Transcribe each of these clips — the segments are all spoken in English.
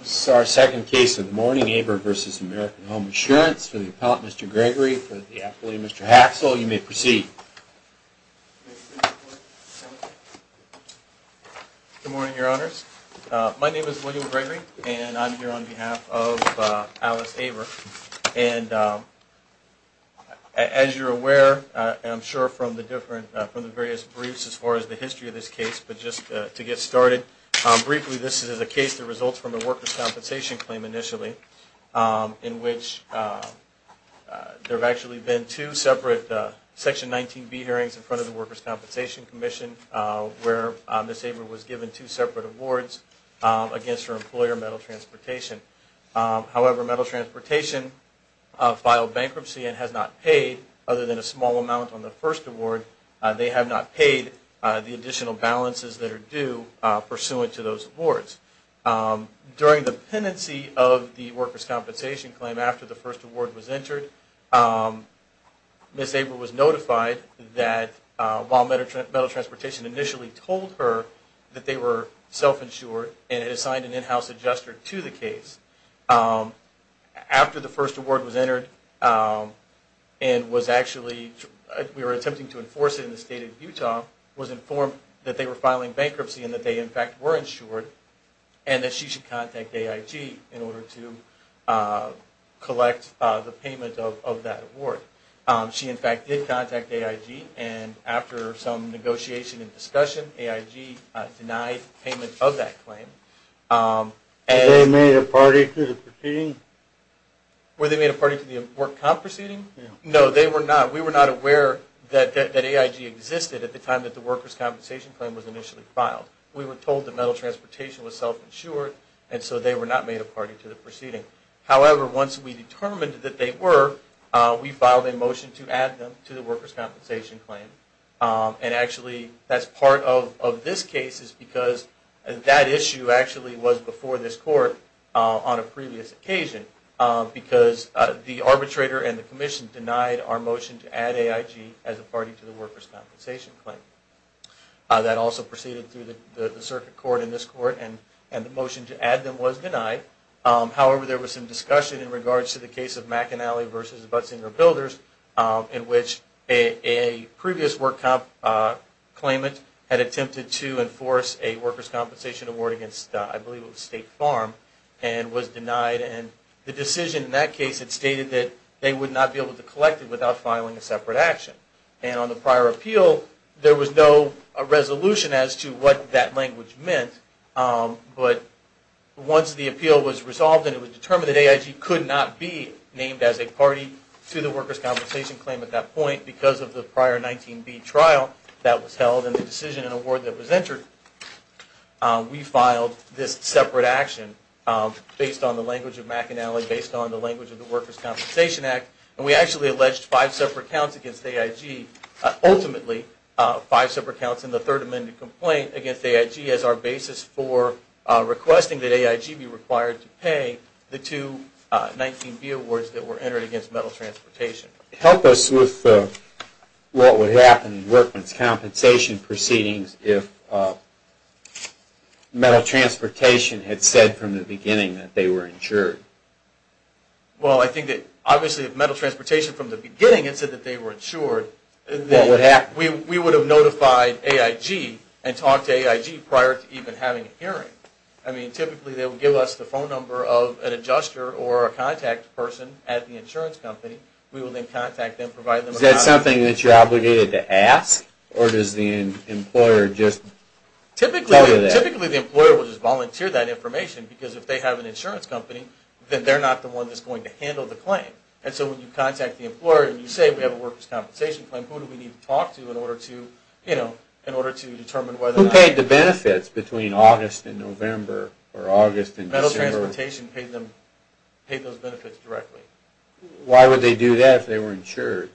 This is our second case of the morning, Aver v. American Home Assurance. For the appellate, Mr. Gregory, for the appellate, Mr. Haxel, you may proceed. Good morning, your honors. My name is William Gregory, and I'm here on behalf of Alice Aver. And as you're aware, I'm sure from the various briefs as far as the history of this case, but just to get started, briefly, this is a case that results from a workers' compensation claim initially, in which there have actually been two separate Section 19b hearings in front of the Workers' Compensation Commission, where Ms. Aver was given two separate awards against her employer, Metal Transportation. However, Metal Transportation filed bankruptcy and has not paid, other than a small amount on the first award. They have not paid the additional balances that are due pursuant to those awards. During the pendency of the workers' compensation claim, after the first award was entered, Ms. Aver was notified that while Metal Transportation initially told her that they were self-insured and had assigned an in-house adjuster to the case, after the first award was entered and was actually, we were attempting to enforce it in the state of Utah, was informed that they were filing bankruptcy and that they, in fact, were insured, and that she should contact AIG in order to collect the payment of that award. She, in fact, did contact AIG, and after some negotiation and discussion, AIG denied payment of that claim. Were they made a party to the proceeding? Were they made a party to the work comp proceeding? No, they were not. We were not aware that AIG existed at the time that the workers' compensation claim was initially filed. We were told that Metal Transportation was self-insured, and so they were not made a party to the proceeding. However, once we determined that they were, we filed a motion to add them to the workers' compensation claim, and actually, that's part of this case, because that issue actually was before this Court on a previous occasion, because the arbitrator and the Commission denied our motion to add AIG as a party to the workers' compensation claim. That also proceeded through the Circuit Court and this Court, and the motion to add them was denied. However, there was some discussion in regards to the case of McAnally v. Buttsinger Builders, in which a previous work comp claimant had attempted to enforce a workers' compensation award against, I believe it was State Farm, and was denied, and the decision in that case had stated that they would not be able to collect it without filing a separate action. And on the prior appeal, there was no resolution as to what that language meant, but once the appeal was resolved and it was determined that AIG could not be named as a party to the workers' compensation claim at that point, because of the prior 19B trial that was held and the decision and award that was entered, we filed this separate action based on the language of McAnally, based on the language of the Workers' Compensation Act, and we actually alleged five separate counts against AIG, ultimately five separate counts in the Third Amendment complaint against AIG as our basis for requesting that AIG be required to pay the two 19B awards that were entered against Metal Transportation. Help us with what would happen in workers' compensation proceedings if Metal Transportation had said from the beginning that they were insured. Well, I think that, obviously, if Metal Transportation from the beginning had said that they were insured, we would have notified AIG and talked to AIG prior to even having a hearing. I mean, typically they would give us the phone number of an adjuster or a contact person at the insurance company. We would then contact them, provide them a copy. Is that something that you're obligated to ask, or does the employer just tell you that? Typically the employer will just volunteer that information, because if they have an insurance company, then they're not the one that's going to handle the claim. And so when you contact the employer and you say we have a workers' compensation claim, who do we need to talk to in order to determine whether or not... Who paid the benefits between August and November, or August and December? Metal Transportation paid those benefits directly. Why would they do that if they were insured?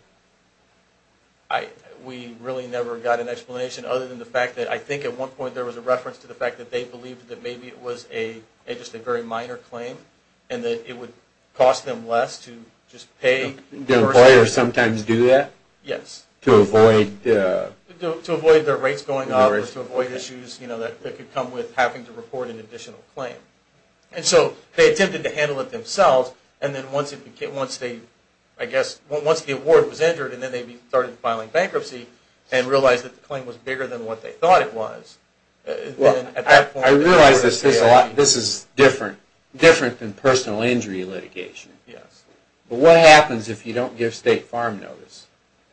We really never got an explanation other than the fact that, I think at one point, there was a reference to the fact that they believed that maybe it was just a very minor claim, and that it would cost them less to just pay... Do employers sometimes do that? Yes. To avoid... To avoid their rates going up, or to avoid issues that could come with having to report an additional claim. And so they attempted to handle it themselves, and then once the award was entered, and then they started filing bankruptcy, and realized that the claim was bigger than what they thought it was... Well, I realize this is different than personal injury litigation. Yes. But what happens if you don't give state farm notice?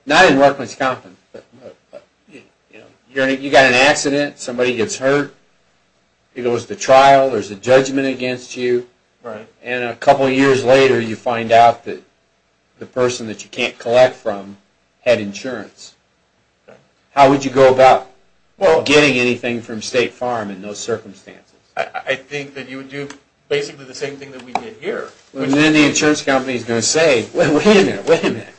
Not in workers' compensation, but... You got in an accident, somebody gets hurt, it goes to trial, there's a judgment against you, and a couple years later you find out that the person that you can't collect from had insurance. How would you go about getting anything from state farm in those circumstances? I think that you would do basically the same thing that we did here. Well, then the insurance company is going to say, wait a minute, wait a minute,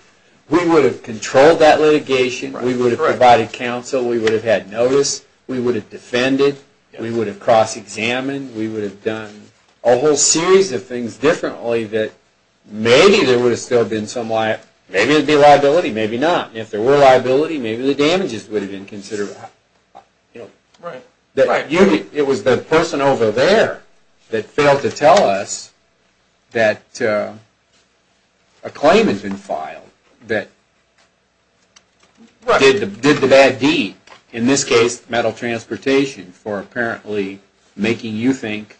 we would have controlled that litigation, we would have provided counsel, we would have had notice, we would have defended, we would have cross-examined, we would have done a whole series of things differently that maybe there would have still been some liability, maybe not. If there were liability, maybe the damages would have been considered. Right. It was the person over there that failed to tell us that a claim had been filed that did the bad deed. In this case, metal transportation for apparently making you think,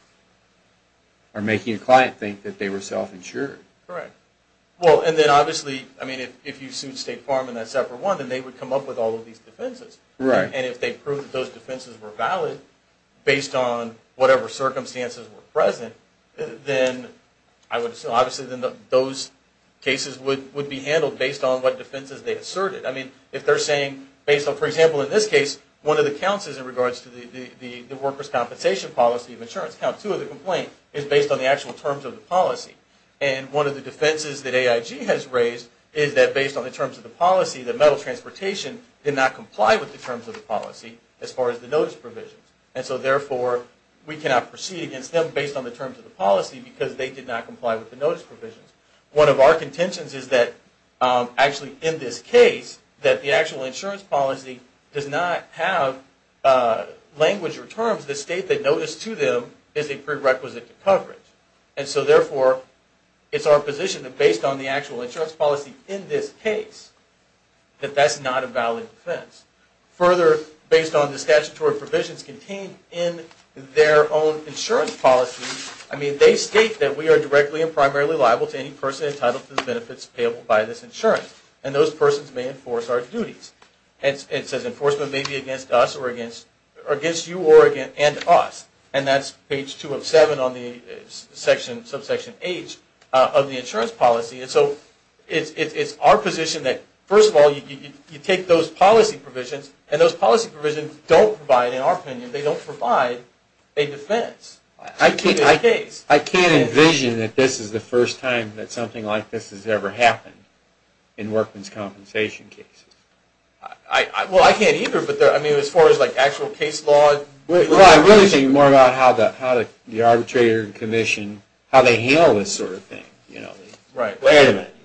or making a client think that they were self-insured. Correct. Well, and then obviously, I mean, if you sued state farm in that separate one, then they would come up with all of these defenses. Right. And if they proved that those defenses were valid based on whatever circumstances were present, then I would assume obviously those cases would be handled based on what defenses they asserted. I mean, if they're saying based on, for example, in this case, one of the counts is in regards to the workers' compensation policy of insurance. Count two of the complaint is based on the actual terms of the policy. And one of the defenses that AIG has raised is that based on the terms of the policy, that metal transportation did not comply with the terms of the policy as far as the notice provisions. And so therefore, we cannot proceed against them based on the terms of the policy because they did not comply with the notice provisions. One of our contentions is that actually in this case, that the actual insurance policy does not have language or terms that state that notice to them is a prerequisite to coverage. And so therefore, it's our position that based on the actual insurance policy in this case, that that's not a valid defense. Further, based on the statutory provisions contained in their own insurance policy, I mean, they state that we are directly and primarily liable to any person entitled to the benefits payable by this insurance. And those persons may enforce our duties. And it says enforcement may be against us or against you and us. And that's page two of seven on the subsection H of the insurance policy. And so it's our position that, first of all, you take those policy provisions, and those policy provisions don't provide, in our opinion, they don't provide a defense. I can't envision that this is the first time that something like this has ever happened in workman's compensation cases. Well, I can't either. But, I mean, as far as, like, actual case law. Well, I'm really thinking more about how the arbitrator and commission, how they handle this sort of thing. Right. Wait a minute.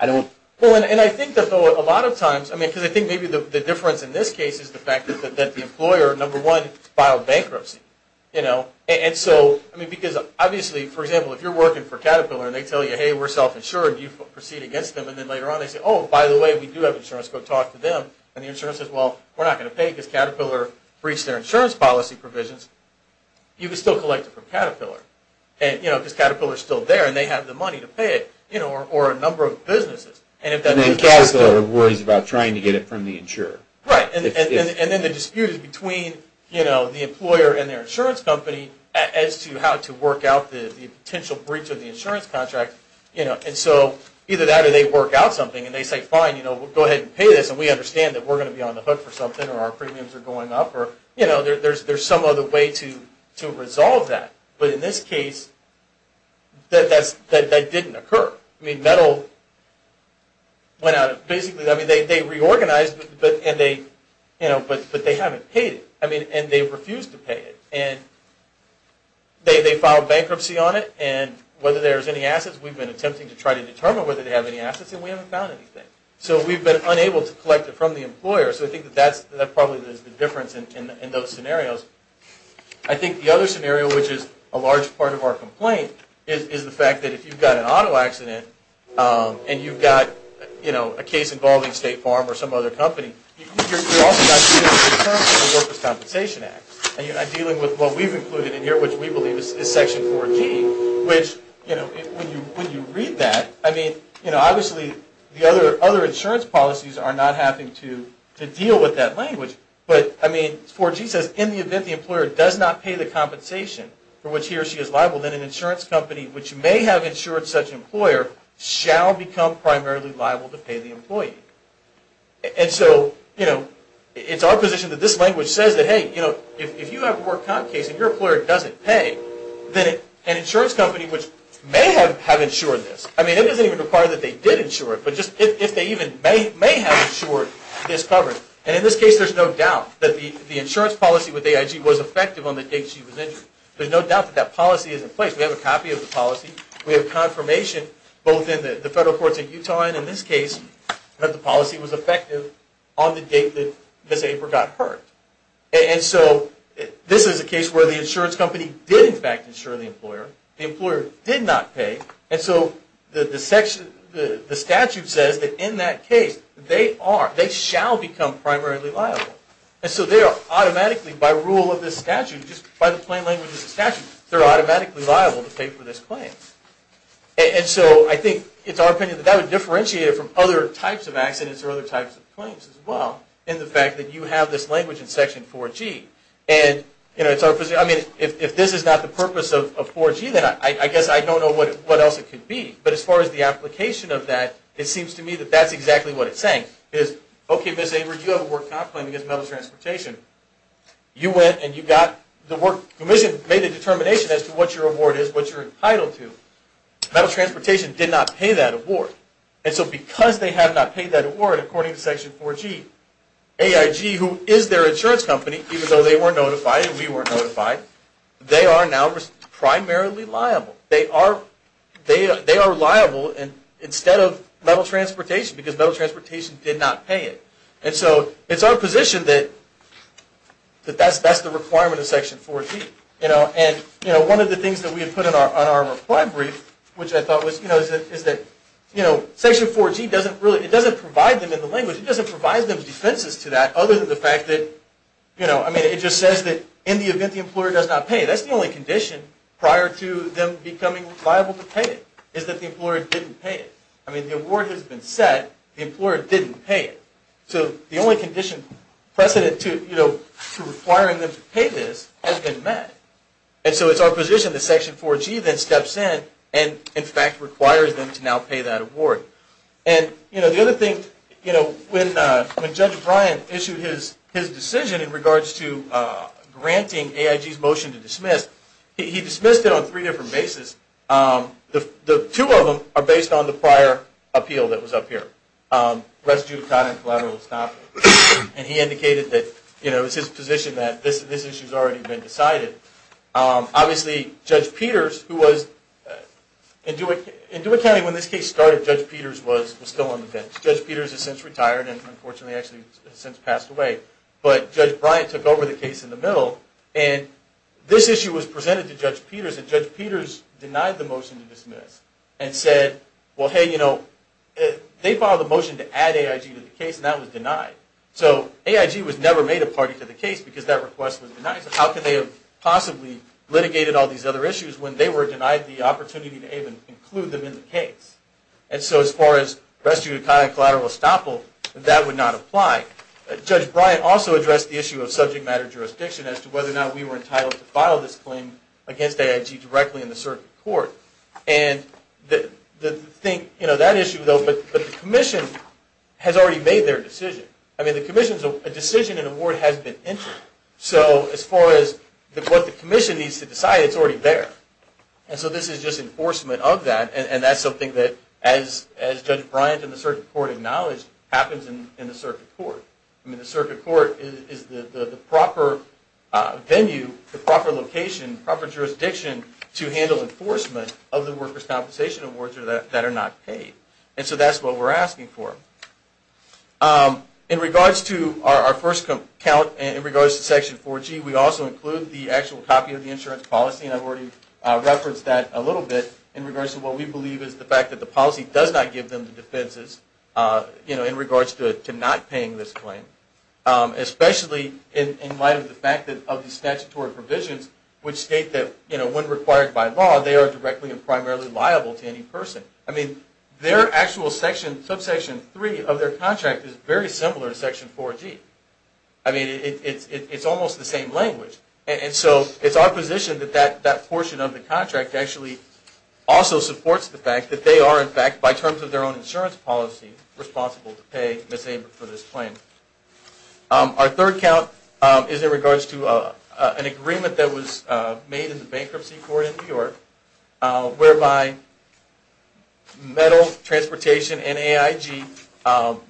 I don't. Well, and I think that, though, a lot of times, I mean, because I think maybe the difference in this case is the fact that the employer, number one, filed bankruptcy, you know. And so, I mean, because obviously, for example, if you're working for Caterpillar and they tell you, hey, we're self-insured, you proceed against them. And then later on they say, oh, by the way, we do have insurance. Go talk to them. And the insurer says, well, we're not going to pay because Caterpillar breached their insurance policy provisions. You can still collect it from Caterpillar, you know, because Caterpillar is still there and they have the money to pay it, you know, or a number of businesses. And then Caterpillar worries about trying to get it from the insurer. Right. And then the dispute is between, you know, the employer and their insurance company as to how to work out the potential breach of the insurance contract, you know. And so either that or they work out something and they say, fine, you know, we'll go ahead and pay this and we understand that we're going to be on the hook for something or our premiums are going up or, you know, there's some other way to resolve that. But in this case, that didn't occur. I mean, Metal went out and basically, I mean, they reorganized and they haven't paid it. I mean, and they refused to pay it. And they filed bankruptcy on it and whether there's any assets, we've been attempting to try to determine whether they have any assets and we haven't found anything. So we've been unable to collect it from the employer. So I think that that's probably the difference in those scenarios. I think the other scenario, which is a large part of our complaint, is the fact that if you've got an auto accident and you've got, you know, a case involving State Farm or some other company, you're also not dealing with the terms of the Workers' Compensation Act. You're not dealing with what we've included in here, which we believe is Section 4G, which, you know, when you read that, I mean, you know, obviously the other insurance policies are not having to deal with that language. But, I mean, 4G says, in the event the employer does not pay the compensation for which he or she is liable, then an insurance company which may have And so, you know, it's our position that this language says that, hey, you know, if you have a work comp case and your employer doesn't pay, then an insurance company which may have insured this. I mean, it doesn't even require that they did insure it, but just if they even may have insured this coverage. And in this case, there's no doubt that the insurance policy with AIG was effective on the day she was injured. There's no doubt that that policy is in place. We have a copy of the policy. We have confirmation, both in the federal courts in Utah and in this case, that the policy was effective on the date that Ms. Aper got hurt. And so, this is a case where the insurance company did, in fact, insure the employer. The employer did not pay. And so, the statute says that in that case, they shall become primarily liable. And so, they are automatically, by rule of this statute, just by the plain language of the statute, they're automatically liable to pay for this And so, I think it's our opinion that that would differentiate it from other types of accidents or other types of claims as well in the fact that you have this language in Section 4G. And, you know, it's our position. I mean, if this is not the purpose of 4G, then I guess I don't know what else it could be. But as far as the application of that, it seems to me that that's exactly what it's saying is, okay, Ms. Aper, you have a work comp claim against metals transportation. You went and you got the work commission made a determination as to what your award is, what you're entitled to. Metal transportation did not pay that award. And so, because they have not paid that award, according to Section 4G, AIG, who is their insurance company, even though they weren't notified and we weren't notified, they are now primarily liable. They are liable instead of metal transportation because metal transportation did not pay it. And so, it's our position that that's the requirement of Section 4G. And, you know, one of the things that we had put on our reply brief, which I thought was, you know, is that, you know, Section 4G doesn't really, it doesn't provide them in the language. It doesn't provide them defenses to that other than the fact that, you know, I mean, it just says that in the event the employer does not pay, that's the only condition prior to them becoming liable to pay it, is that the employer didn't pay it. I mean, the award has been set. The employer didn't pay it. So, the only condition, precedent to, you know, requiring them to pay this has been met. And so, it's our position that Section 4G then steps in and, in fact, requires them to now pay that award. And, you know, the other thing, you know, when Judge Bryant issued his decision in regards to granting AIG's motion to dismiss, he dismissed it on three different bases. The two of them are based on the prior appeal that was up here, rest issue, and collateral estoppel. And he indicated that, you know, it was his position that this issue has already been decided. Obviously, Judge Peters, who was, in Dewitt County, when this case started, Judge Peters was still on the bench. Judge Peters has since retired and, unfortunately, actually has since passed away. But Judge Bryant took over the case in the middle and this issue was presented to Judge Peters and Judge Peters denied the motion to dismiss and said, well, hey, you know, they filed a motion to add AIG to the case and that was denied. So, AIG was never made a party to the case because that request was denied. So, how could they have possibly litigated all these other issues when they were denied the opportunity to even include them in the case? And so, as far as rest due to collateral estoppel, that would not apply. Judge Bryant also addressed the issue of subject matter jurisdiction as to whether or not we were entitled to file this claim against AIG directly in the circuit court. And that issue, though, but the commission has already made their decision. I mean, the commission's decision and award has been entered. So, as far as what the commission needs to decide, it's already there. And so, this is just enforcement of that and that's something that, as Judge Bryant and the circuit court acknowledged, happens in the circuit court. I mean, the circuit court is the proper venue, the proper location, proper enforcement of the workers' compensation awards that are not paid. And so, that's what we're asking for. In regards to our first count, in regards to Section 4G, we also include the actual copy of the insurance policy and I've already referenced that a little bit in regards to what we believe is the fact that the policy does not give them the defenses, you know, in regards to not paying this claim. Especially in light of the fact of the statutory provisions which state that, you know, when required by law, they are directly and primarily liable to any person. I mean, their actual Subsection 3 of their contract is very similar to Section 4G. I mean, it's almost the same language. And so, it's our position that that portion of the contract actually also supports the fact that they are, in fact, by terms of their own insurance policy, responsible to pay Ms. Abra for this claim. Our third count is in regards to an agreement that was made in the bankruptcy court in New York, whereby Metal Transportation and AIG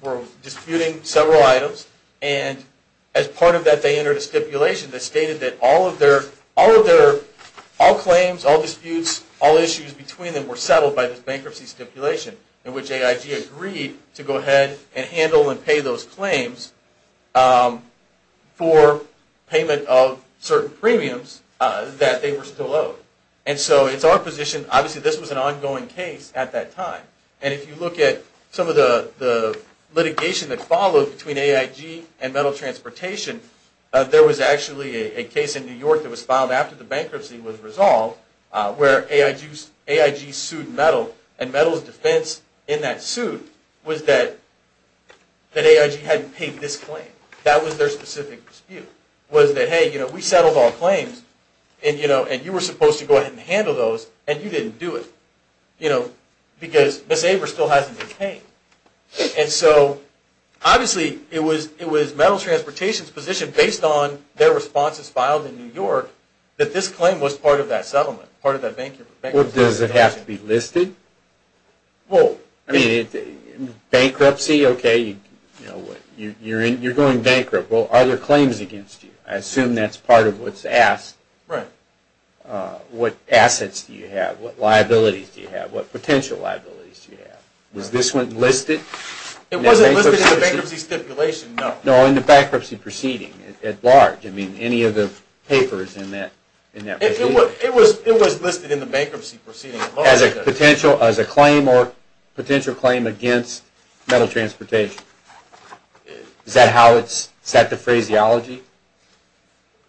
were disputing several items and as part of that, they entered a stipulation that stated that all of their claims, all disputes, all issues between them were settled by this bankruptcy stipulation in which AIG agreed to go ahead and handle and pay those claims for payment of certain premiums that they were still owed. And so, it's our position, obviously, this was an ongoing case at that time. And if you look at some of the litigation that followed between AIG and Metal Transportation, there was actually a case in New York that was filed after the bankruptcy was resolved where AIG sued Metal and Metal's defense in that suit was that AIG hadn't paid this claim. That was their specific dispute, was that hey, we settled all claims and you were supposed to go ahead and handle those and you didn't do it because Ms. Abra still hasn't been paid. And so, obviously, it was Metal Transportation's position based on their responses filed in New York that this claim was part of that settlement, part of that bankruptcy stipulation. Well, does it have to be listed? Well, I mean, bankruptcy, okay, you're going bankrupt. Well, are there claims against you? I assume that's part of what's asked. Right. What assets do you have? What liabilities do you have? What potential liabilities do you have? Was this one listed? It wasn't listed in the bankruptcy stipulation, no. No, in the bankruptcy proceeding at large? I mean, any of the papers in that proceeding? It was listed in the bankruptcy proceeding at large. As a claim or potential claim against Metal Transportation? Is that the phraseology?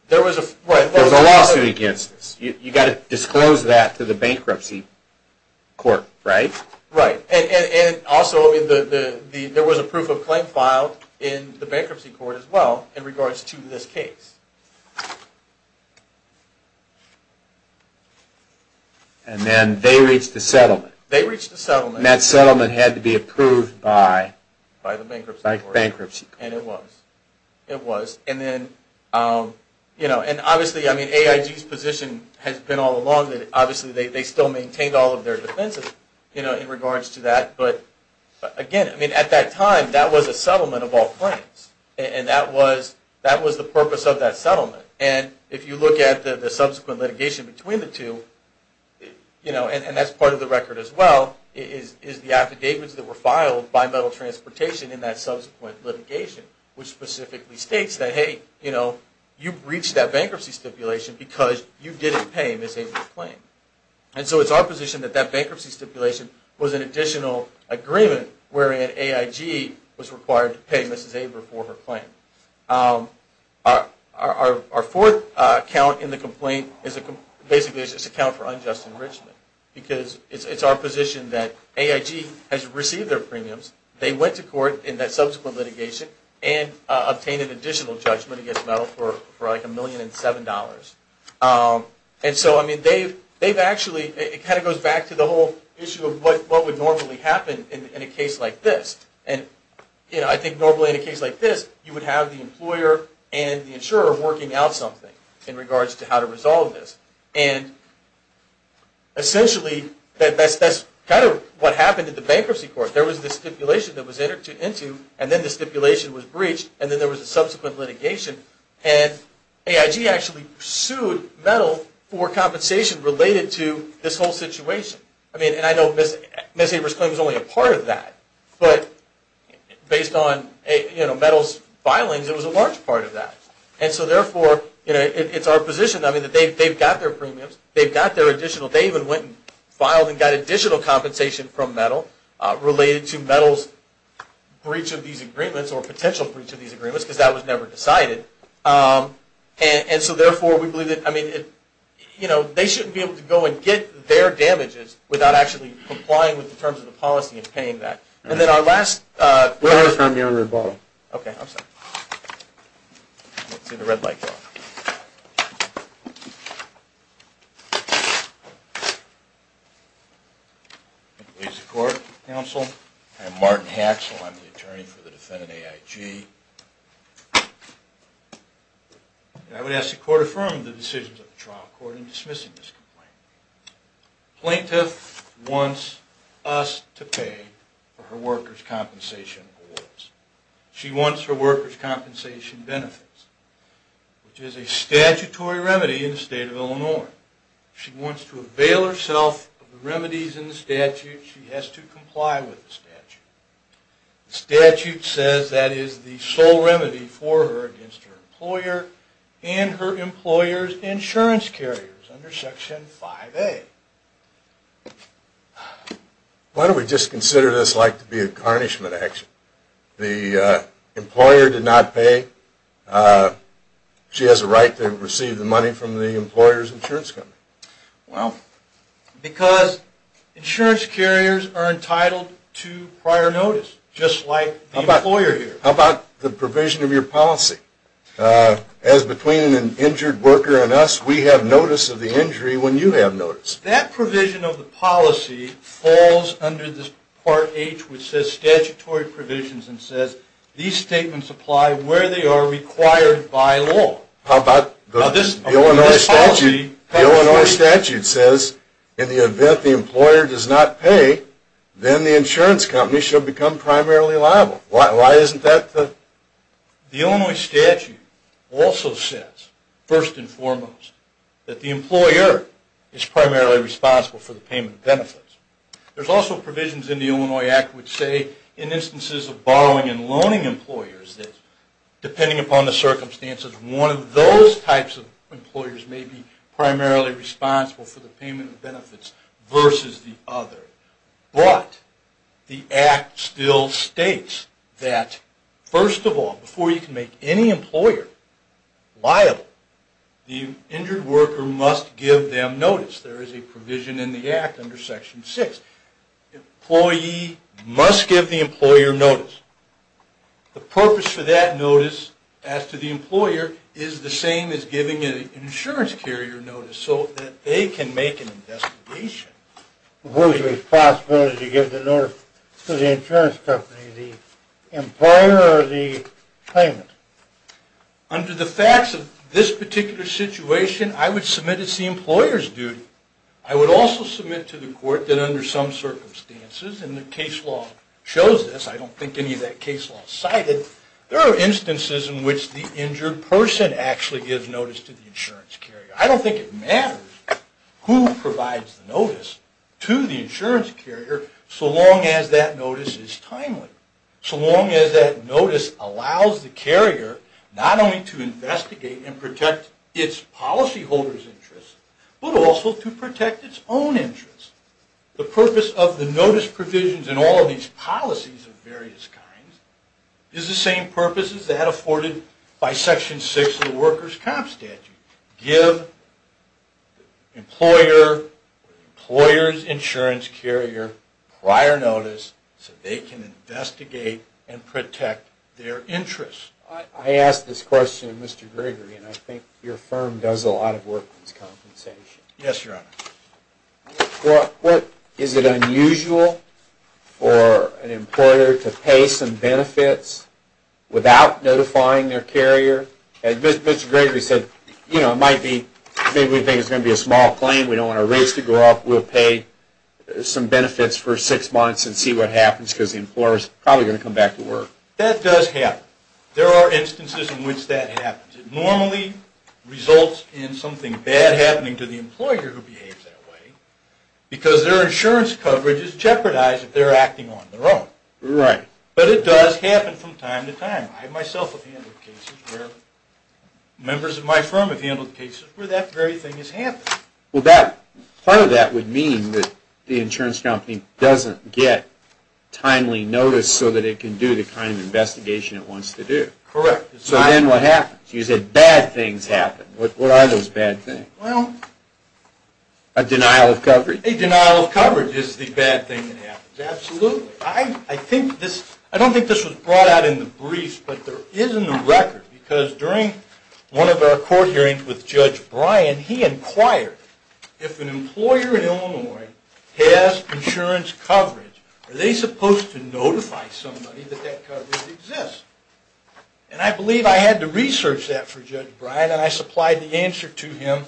There was a lawsuit against this. You've got to disclose that to the bankruptcy court, right? Right. And also, there was a proof of claim filed in the bankruptcy court as well in regards to this case. And then they reached a settlement. They reached a settlement. And that settlement had to be approved by the bankruptcy court. By the bankruptcy court. And it was. It was. And then, you know, and obviously, I mean, AIG's position has been all along that obviously they still maintained all of their defenses, you know, in regards to that. But again, I mean, at that time, that was a settlement of all claims. And that was the purpose of that settlement. And if you look at the subsequent litigation between the two, you know, and that's part of the record as well, is the affidavits that were filed by Metal Transportation in that subsequent litigation, which specifically states that, hey, you know, you breached that bankruptcy stipulation because you didn't pay Mrs. Abra's claim. And so it's our position that that bankruptcy stipulation was an affidavit that AIG was required to pay Mrs. Abra for her claim. Our fourth account in the complaint is basically just an account for unjust enrichment. Because it's our position that AIG has received their premiums, they went to court in that subsequent litigation, and obtained an additional judgment against Metal for like a million and seven dollars. And so, I mean, they've actually, it kind of goes back to the whole issue of what would normally happen in a case like this. And, you know, I think normally in a case like this, you would have the employer and the insurer working out something in regards to how to resolve this. And essentially, that's kind of what happened at the bankruptcy court. There was this stipulation that was entered into, and then the stipulation was breached, and then there was a subsequent litigation. And AIG actually sued Metal for compensation related to this whole situation. I mean, and I know Mrs. Abra's claim was only a part of that, but based on, you know, Metal's filings, it was a large part of that. And so, therefore, you know, it's our position, I mean, that they've got their premiums, they've got their additional, they even went and filed and got additional compensation from Metal related to Metal's breach of these agreements, or potential breach of these agreements, because that was never decided. And so, therefore, we believe that, I mean, you know, they shouldn't be able to go and get their damages without actually complying with the terms of the policy and paying that. And then our last question. We haven't found the owner of the bottle. Okay. I'm sorry. Let's see the red light. Ladies and court, counsel, I'm Martin Haxel. I'm the attorney for the defendant, AIG. I would ask the court to affirm the decisions of the trial court in dismissing this complaint. Plaintiff wants us to pay for her workers' compensation awards. She wants her workers' compensation benefits, which is a statutory remedy in the state of Illinois. She wants to avail herself of the remedies in the statute. She has to comply with the statute. The statute says that is the sole remedy for her against her employer and her employer's insurance carriers under Section 5A. Why don't we just consider this like to be a garnishment action? The employer did not pay. She has a right to receive the money from the employer's insurance company. Because insurance carriers are entitled to prior notice, just like the employer here. How about the provision of your policy? As between an injured worker and us, we have notice of the injury when you have notice. That provision of the policy falls under this Part H, which says statutory provisions, and says these statements apply where they are required by law. How about the Illinois statute? The Illinois statute says in the event the employer does not pay, then the insurance company should become primarily liable. Why isn't that the... The Illinois statute also says, first and foremost, that the employer is primarily responsible for the payment of benefits. There's also provisions in the Illinois Act which say in instances of borrowing and loaning employers, depending upon the circumstances, one of those types of employers may be primarily responsible for the payment of benefits versus the other. But the Act still states that, first of all, before you can make any employer liable, the injured worker must give them notice. There is a provision in the Act under Section 6. The employee must give the employer notice. The purpose for that notice, as to the employer, is the same as giving an insurance carrier notice so that they can make an investigation. What is the responsibility to give the notice to the insurance company, the employer or the claimant? Under the facts of this particular situation, I would submit it's the employer's duty. I would also submit to the court that under some circumstances, and the case law shows this. I don't think any of that case law is cited. There are instances in which the injured person actually gives notice to the insurance carrier. I don't think it matters who provides the notice to the insurance carrier so long as that notice is timely, so long as that notice allows the carrier not only to investigate and protect its policyholder's interests, but also to protect its own interests. The purpose of the notice provisions in all of these policies of various kinds is the same purpose as that afforded by Section 6 of the Workers' Comp Statute. Give the employer or the employer's insurance carrier prior notice so they can investigate and protect their interests. I ask this question of Mr. Gregory, and I think your firm does a lot of work on this compensation. Yes, Your Honor. Is it unusual for an employer to pay some benefits without notifying their carrier? As Mr. Gregory said, you know, it might be, maybe we think it's going to be a small claim, we don't want our rates to go up, we'll pay some benefits for six months and see what happens because the employer is probably going to come back to work. That does happen. There are instances in which that happens. It normally results in something bad happening to the employer who behaves that way because their insurance coverage is jeopardized if they're acting on their own. Right. But it does happen from time to time. I myself have handled cases where members of my firm have handled cases where that very thing has happened. Well, part of that would mean that the insurance company doesn't get timely notice so that it can do the kind of investigation it wants to do. Correct. So then what happens? You said bad things happen. What are those bad things? A denial of coverage. A denial of coverage is the bad thing that happens. Absolutely. I don't think this was brought out in the briefs, but there is in the record because during one of our court hearings with Judge Bryan, he inquired if an employer in Illinois has insurance coverage, are they supposed to notify somebody that that coverage exists? And I believe I had to research that for Judge Bryan and I supplied the answer to him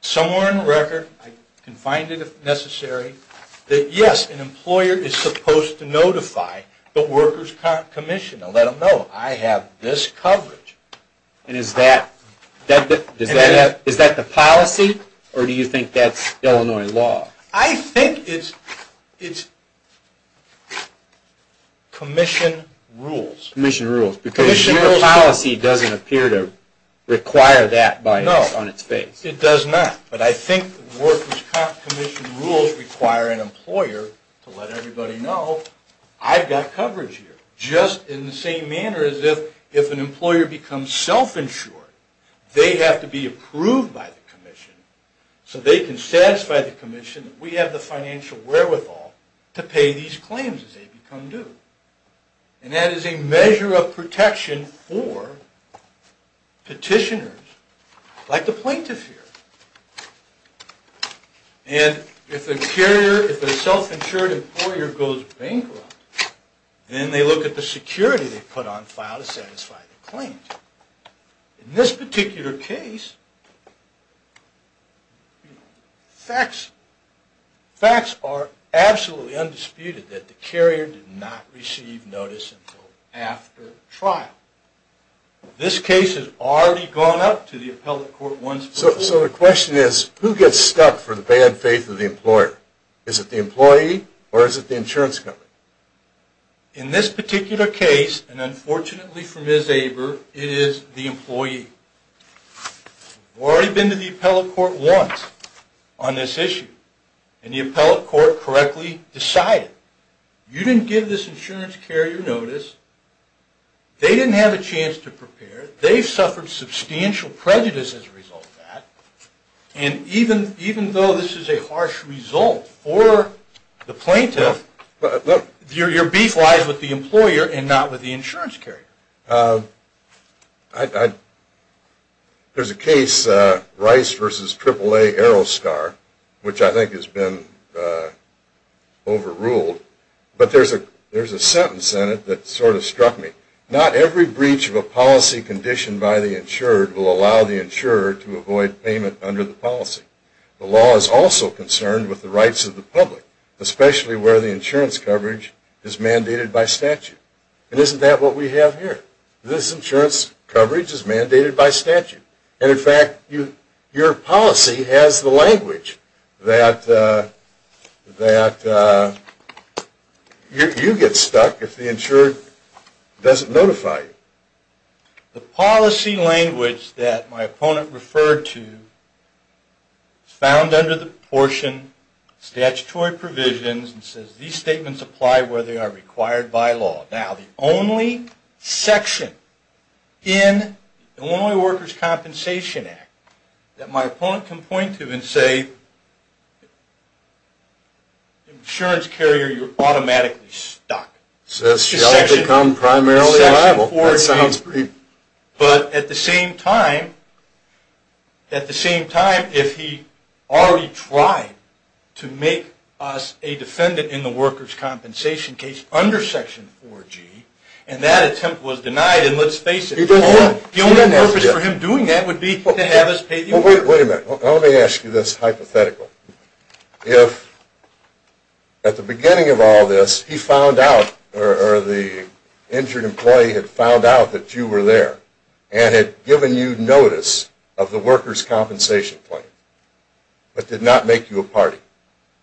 somewhere in the record, I can find it if necessary, that yes, an employer is supposed to notify the workers' commission and let them know I have this coverage. And is that the policy or do you think that's Illinois law? I think it's commission rules. Commission rules. Because your policy doesn't appear to require that on its face. No, it does not. But I think workers' commission rules require an employer to let everybody know I've got coverage here. Just in the same manner as if an employer becomes self-insured, they have to be approved by the commission so they can satisfy the commission that we have the financial wherewithal to pay these claims as they become due. And that is a measure of protection for petitioners like the plaintiff here. And if a carrier, if a self-insured employer goes bankrupt, then they look at the security they put on file to satisfy their claims. In this particular case, facts are absolutely undisputed that the carrier did not receive notice until after trial. This case has already gone up to the appellate court once before. So the question is, who gets stuck for the bad faith of the employer? Is it the employee or is it the insurance company? In this particular case, and unfortunately for Ms. Aber, it is the employee. We've already been to the appellate court once on this issue, and the appellate court correctly decided. You didn't give this insurance carrier notice. They didn't have a chance to prepare. They suffered substantial prejudice as a result of that. And even though this is a harsh result for the plaintiff, your beef lies with the employer and not with the insurance carrier. There's a case, Rice v. AAA AeroStar, which I think has been overruled, but there's a sentence in it that sort of struck me. Not every breach of a policy conditioned by the insured will allow the insurer to avoid payment under the policy. The law is also concerned with the rights of the public, especially where the insurance coverage is mandated by statute. And isn't that what we have here? This insurance coverage is mandated by statute. And in fact, your policy has the language that you get stuck if the insurer doesn't notify you. The policy language that my opponent referred to is found under the portion Statutory Provisions, and it says these statements apply where they are required by law. Now, the only section in the Only Workers' Compensation Act that my opponent can point to and say, insurance carrier, you're automatically stuck. So that should become primarily liable. But at the same time, if he already tried to make us a defendant in the workers' compensation case under Section 4G, and that attempt was denied, and let's face it, the only purpose for him doing that would be to have us pay the workers. Wait a minute. Let me ask you this hypothetical. If at the beginning of all this, he found out, or the injured employee had found out that you were there and had given you notice of the workers' compensation plan but did not make you a party.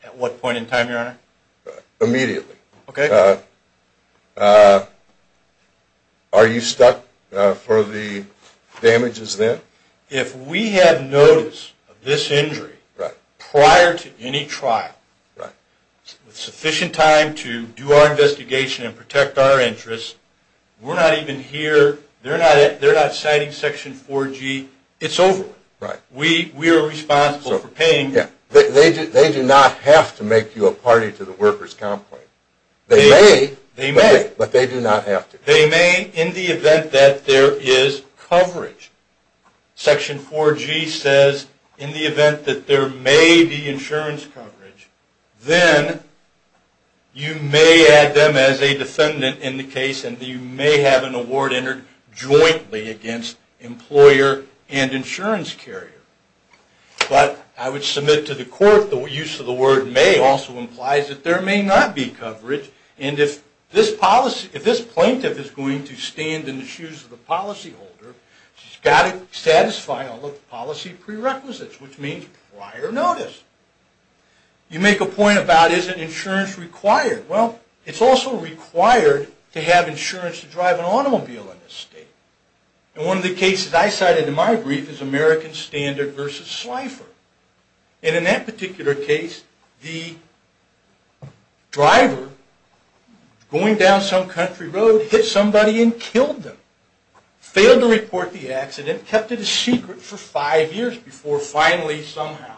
At what point in time, Your Honor? Immediately. Okay. Are you stuck for the damages then? If we had notice of this injury prior to any trial with sufficient time to do our investigation and protect our interests, we're not even here. They're not citing Section 4G. It's over. We are responsible for paying. They do not have to make you a party to the workers' comp plan. They may, but they do not have to. In the event that there is coverage, Section 4G says in the event that there may be insurance coverage, then you may add them as a defendant in the case and you may have an award entered jointly against employer and insurance carrier. But I would submit to the court the use of the word may also implies that there may not be coverage, and if this plaintiff is going to stand in the shoes of the policyholder, she's got to satisfy all of the policy prerequisites, which means prior notice. You make a point about is insurance required. Well, it's also required to have insurance to drive an automobile in this state. One of the cases I cited in my brief is American Standard versus Slipher. In that particular case, the driver going down some country road hit somebody and killed them, failed to report the accident, kept it a secret for five years before finally somehow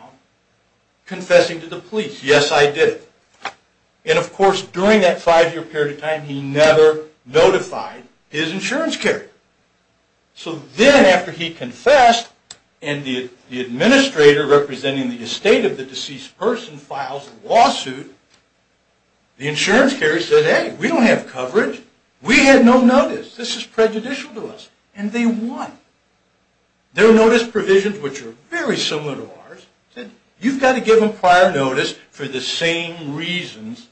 confessing to the police. Yes, I did. And, of course, during that five-year period of time, he never notified his insurance carrier. So then after he confessed, and the administrator representing the estate of the deceased person files a lawsuit, the insurance carrier says, hey, we don't have coverage. We had no notice. This is prejudicial to us. And they won. Their notice provisions, which are very similar to ours, you've got to give them prior notice for the same reasons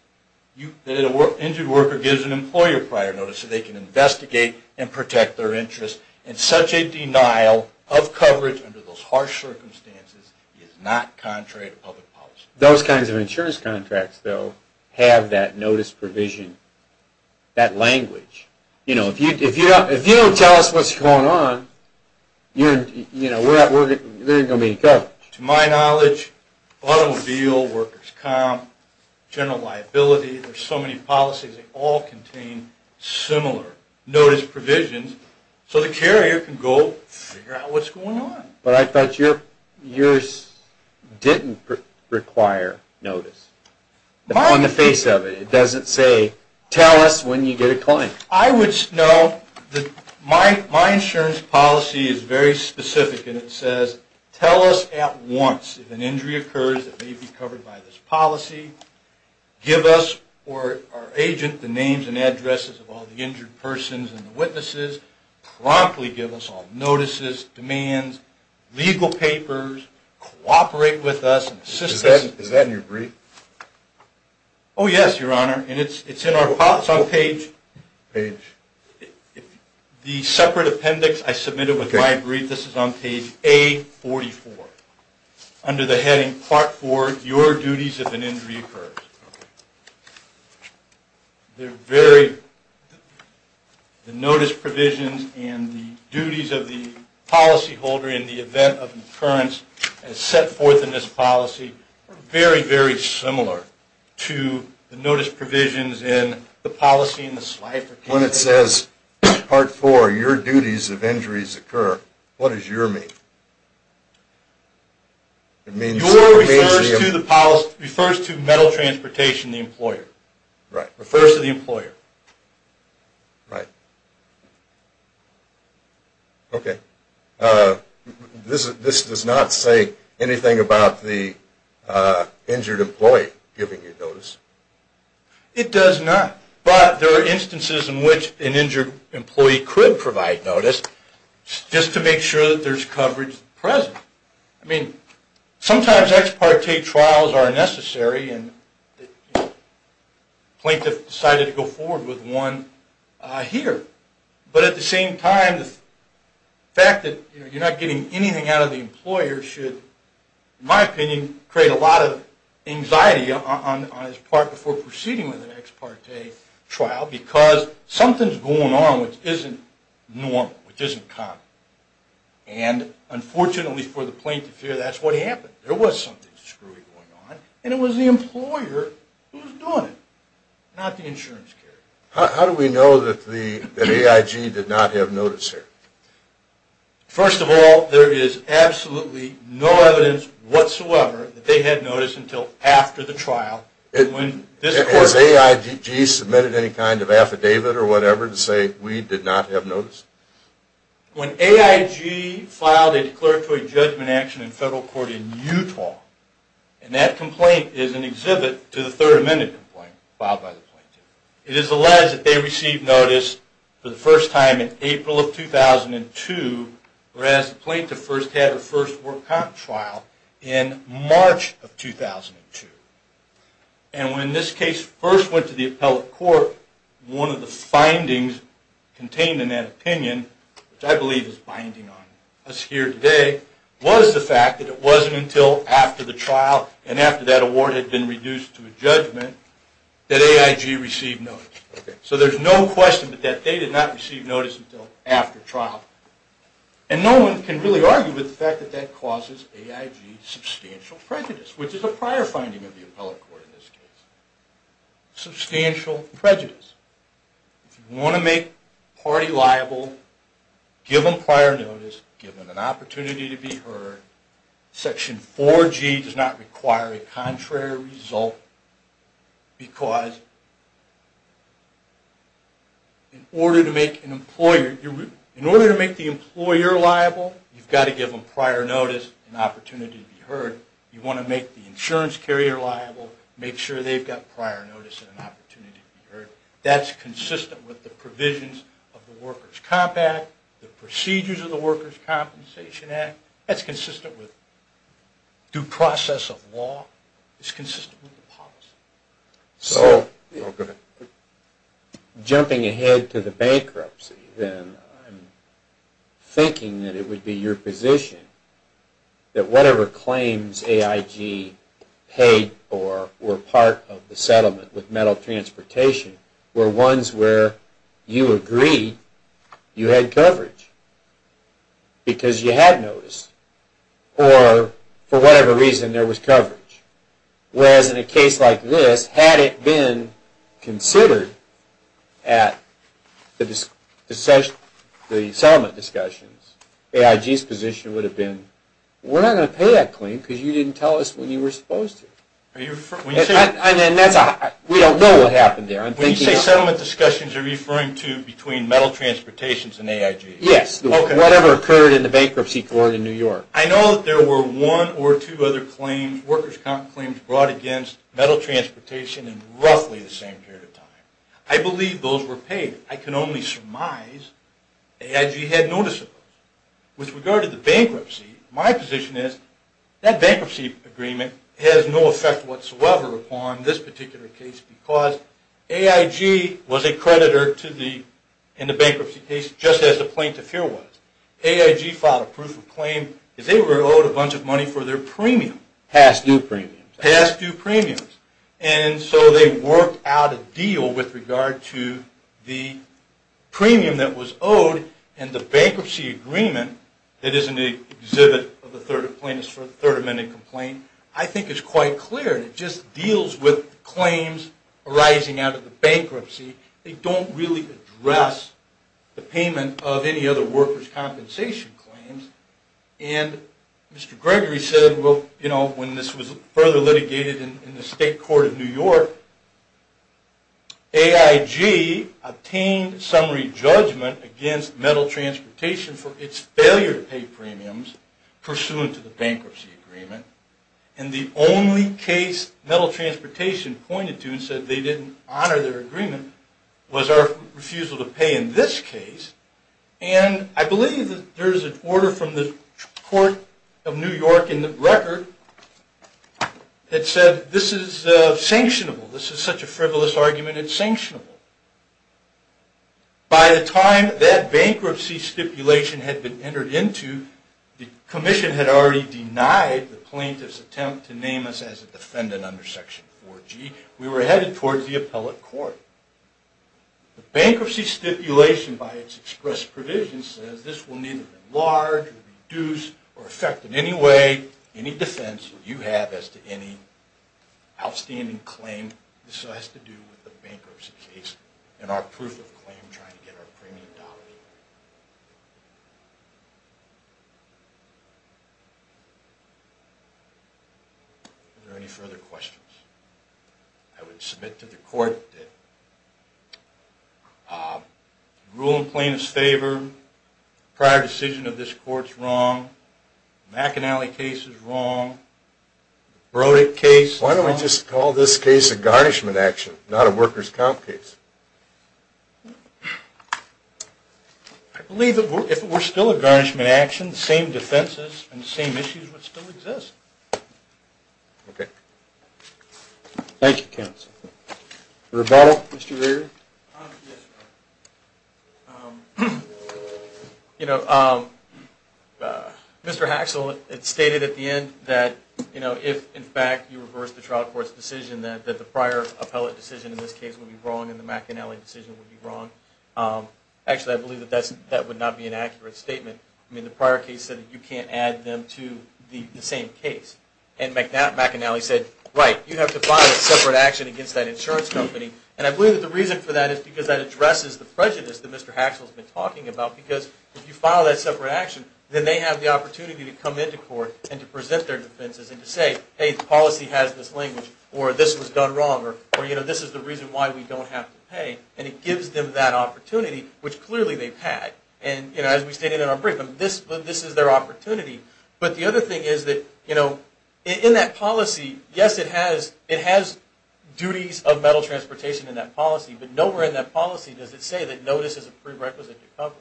that an injured worker gives an employer prior notice so they can investigate and protect their interests. And such a denial of coverage under those harsh circumstances is not contrary to public policy. Those kinds of insurance contracts, though, have that notice provision, that language. If you don't tell us what's going on, there isn't going to be any coverage. To my knowledge, automobile, workers' comp, general liability, there's so many policies that all contain similar notice provisions so the carrier can go figure out what's going on. But I thought yours didn't require notice on the face of it. It doesn't say, tell us when you get a claim. I would note that my insurance policy is very specific, and it says tell us at once if an injury occurs that may be covered by this policy. Give us or our agent the names and addresses of all the injured persons and the witnesses. Promptly give us all notices, demands, legal papers. Cooperate with us and assist us. Is that in your brief? Oh, yes, Your Honor, and it's in our policy. It's on page... The separate appendix I submitted with my brief. This is on page A44. Under the heading part four, your duties if an injury occurs. They're very... The notice provisions and the duties of the policyholder in the event of an occurrence as set forth in this policy are very, very similar to the notice provisions in the policy in the slide. When it says part four, your duties if injuries occur, what does your mean? It means... Your refers to the policy, refers to Metal Transportation, the employer. Right. Refers to the employer. Right. Okay. This does not say anything about the injured employee giving you notice. It does not. But there are instances in which an injured employee could provide notice just to make sure that there's coverage present. I mean, sometimes ex parte trials are necessary and the plaintiff decided to go forward with one here. But at the same time, the fact that you're not getting anything out of the employer should, in my opinion, create a lot of anxiety on his part before proceeding with an ex parte trial, because something's going on which isn't normal, which isn't common. And unfortunately for the plaintiff here, that's what happened. There was something screwy going on, and it was the employer who was doing it, not the insurance carrier. How do we know that AIG did not have notice here? First of all, there is absolutely no evidence whatsoever that they had notice until after the trial. Has AIG submitted any kind of affidavit or whatever to say we did not have notice? When AIG filed a declaratory judgment action in federal court in Utah, and that complaint is an exhibit to the Third Amendment complaint filed by the plaintiff, it is alleged that they received notice for the first time in April of 2002, whereas the plaintiff first had her first work content trial in March of 2002. And when this case first went to the appellate court, one of the findings contained in that opinion, which I believe is binding on us here today, was the fact that it wasn't until after the trial and after that award had been reduced to a judgment that AIG received notice. So there's no question that they did not receive notice until after trial. And no one can really argue with the fact that that causes AIG substantial prejudice, which is a prior finding of the appellate court in this case. Substantial prejudice. If you want to make a party liable, give them prior notice, give them an opportunity to be heard. Section 4G does not require a contrary result because in order to make the employer liable, you've got to give them prior notice and an opportunity to be heard. If you want to make the insurance carrier liable, make sure they've got prior notice and an opportunity to be heard. That's consistent with the provisions of the Workers' Comp Act, the procedures of the Workers' Compensation Act. That's consistent with due process of law. It's consistent with the policy. So jumping ahead to the bankruptcy, then I'm thinking that it would be your position that whatever claims AIG paid or were part of the settlement with Metal Transportation were ones where you agreed you had coverage because you had notice or for whatever reason there was coverage. Whereas in a case like this, had it been considered at the settlement discussions, AIG's position would have been, we're not going to pay that claim because you didn't tell us when you were supposed to. We don't know what happened there. When you say settlement discussions, you're referring to between Metal Transportation and AIG. Yes, whatever occurred in the bankruptcy court in New York. I know that there were one or two other claims, Workers' Comp claims brought against Metal Transportation in roughly the same period of time. I believe those were paid. I can only surmise AIG had notice of those. With regard to the bankruptcy, my position is that bankruptcy agreement has no effect whatsoever upon this particular case because AIG was a creditor in the bankruptcy case just as the plaintiff here was. AIG filed a proof of claim because they were owed a bunch of money for their premium. Past due premiums. Past due premiums. And so they worked out a deal with regard to the premium that was owed and the bankruptcy agreement that is in the exhibit of the Third Amendment Complaint, I think is quite clear. It just deals with claims arising out of the bankruptcy. They don't really address the payment of any other workers' compensation claims. And Mr. Gregory said when this was further litigated in the State Court of New York, AIG obtained summary judgment against Metal Transportation for its failure to pay premiums pursuant to the bankruptcy agreement. And the only case Metal Transportation pointed to and said they didn't honor their agreement was our refusal to pay in this case. And I believe there is an order from the Court of New York in the record that said this is sanctionable. This is such a frivolous argument, it's sanctionable. By the time that bankruptcy stipulation had been entered into, the commission had already denied the plaintiff's attempt to name us as a defendant under Section 4G. We were headed towards the appellate court. The bankruptcy stipulation by its express provision says this will neither enlarge or reduce or affect in any way any defense you have as to any outstanding claim. This has to do with the bankruptcy case and our proof of claim trying to get our premium dollars. Are there any further questions? I would submit to the court that the rule in plaintiff's favor, prior decision of this court is wrong, McAnally case is wrong, Brodick case is wrong. Why don't we just call this case a garnishment action, not a workers' comp case? I believe that if it were still a garnishment action, the same defenses and the same issues would still exist. Okay. Thank you, counsel. Rebuttal, Mr. Rear? Yes, Your Honor. Mr. Haxel, it's stated at the end that if, in fact, you reverse the trial court's decision, that the prior appellate decision in this case would be wrong and the McAnally decision would be wrong. Actually, I believe that that would not be an accurate statement. The prior case said that you can't add them to the same case. And McAnally said, right, you have to file a separate action against that insurance company. And I believe that the reason for that is because that addresses the prejudice that Mr. Haxel has been talking about, because if you file that separate action, then they have the opportunity to come into court and to present their defenses and to say, hey, the policy has this language, or this was done wrong, or this is the reason why we don't have to pay. And it gives them that opportunity, which clearly they've had. And as we stated in our brief, this is their opportunity. But the other thing is that in that policy, yes, it has duties of metal transportation in that policy, but nowhere in that policy does it say that notice is a prerequisite to coverage.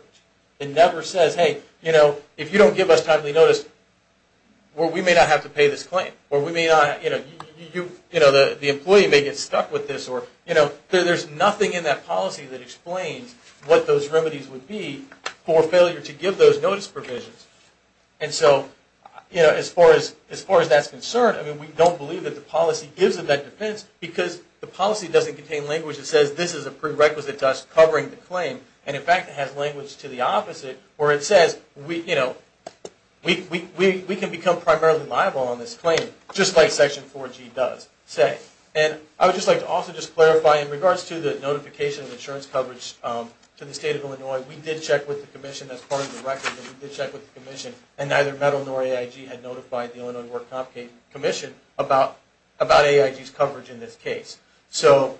It never says, hey, if you don't give us timely notice, we may not have to pay this claim, or the employee may get stuck with this. There's nothing in that policy that explains what those remedies would be for failure to give those notice provisions. And so as far as that's concerned, I mean, we don't believe that the policy gives them that defense because the policy doesn't contain language that says this is a prerequisite to us covering the claim. And in fact, it has language to the opposite, where it says we can become primarily liable on this claim, just like Section 4G does say. And I would just like to also just clarify in regards to the notification of insurance coverage to the State of Illinois, we did check with the Commission as part of the record, but we did check with the Commission, and neither MEDL nor AIG had notified the Illinois Work Comp Commission about AIG's coverage in this case. So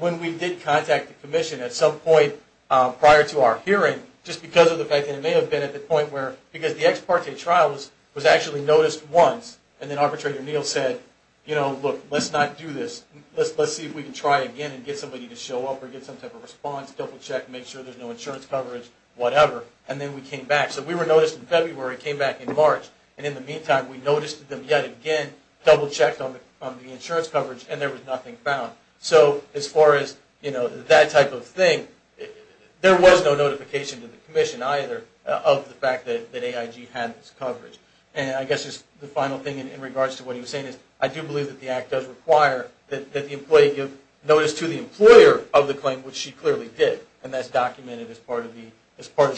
when we did contact the Commission at some point prior to our hearing, just because of the fact that it may have been at the point where, because the ex parte trial was actually noticed once, and then Arbitrator Neal said, you know, look, let's not do this. Let's see if we can try again and get somebody to show up or get some type of response, double-check, make sure there's no insurance coverage, whatever. And then we came back. So we were noticed in February, came back in March, and in the meantime, we noticed them yet again double-checked on the insurance coverage, and there was nothing found. So as far as, you know, that type of thing, there was no notification to the Commission either of the fact that AIG had this coverage. And I guess just the final thing in regards to what he was saying is, I do believe that the Act does require that the employee give notice to the employer of the claim, which she clearly did, and that's documented as part of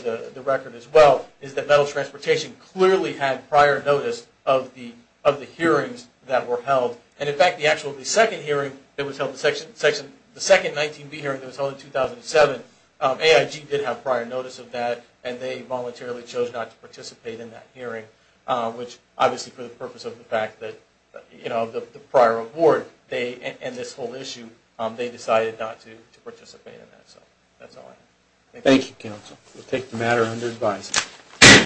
the record as well, is that Metal Transportation clearly had prior notice of the hearings that were held. And, in fact, the actual second hearing that was held, the second 19B hearing that was held in 2007, AIG did have prior notice of that, and they voluntarily chose not to participate in that hearing, which obviously for the purpose of the fact that, you know, of the prior award, and this whole issue, they decided not to participate in that. So that's all I have. Thank you, Counsel. We'll take the matter under advice.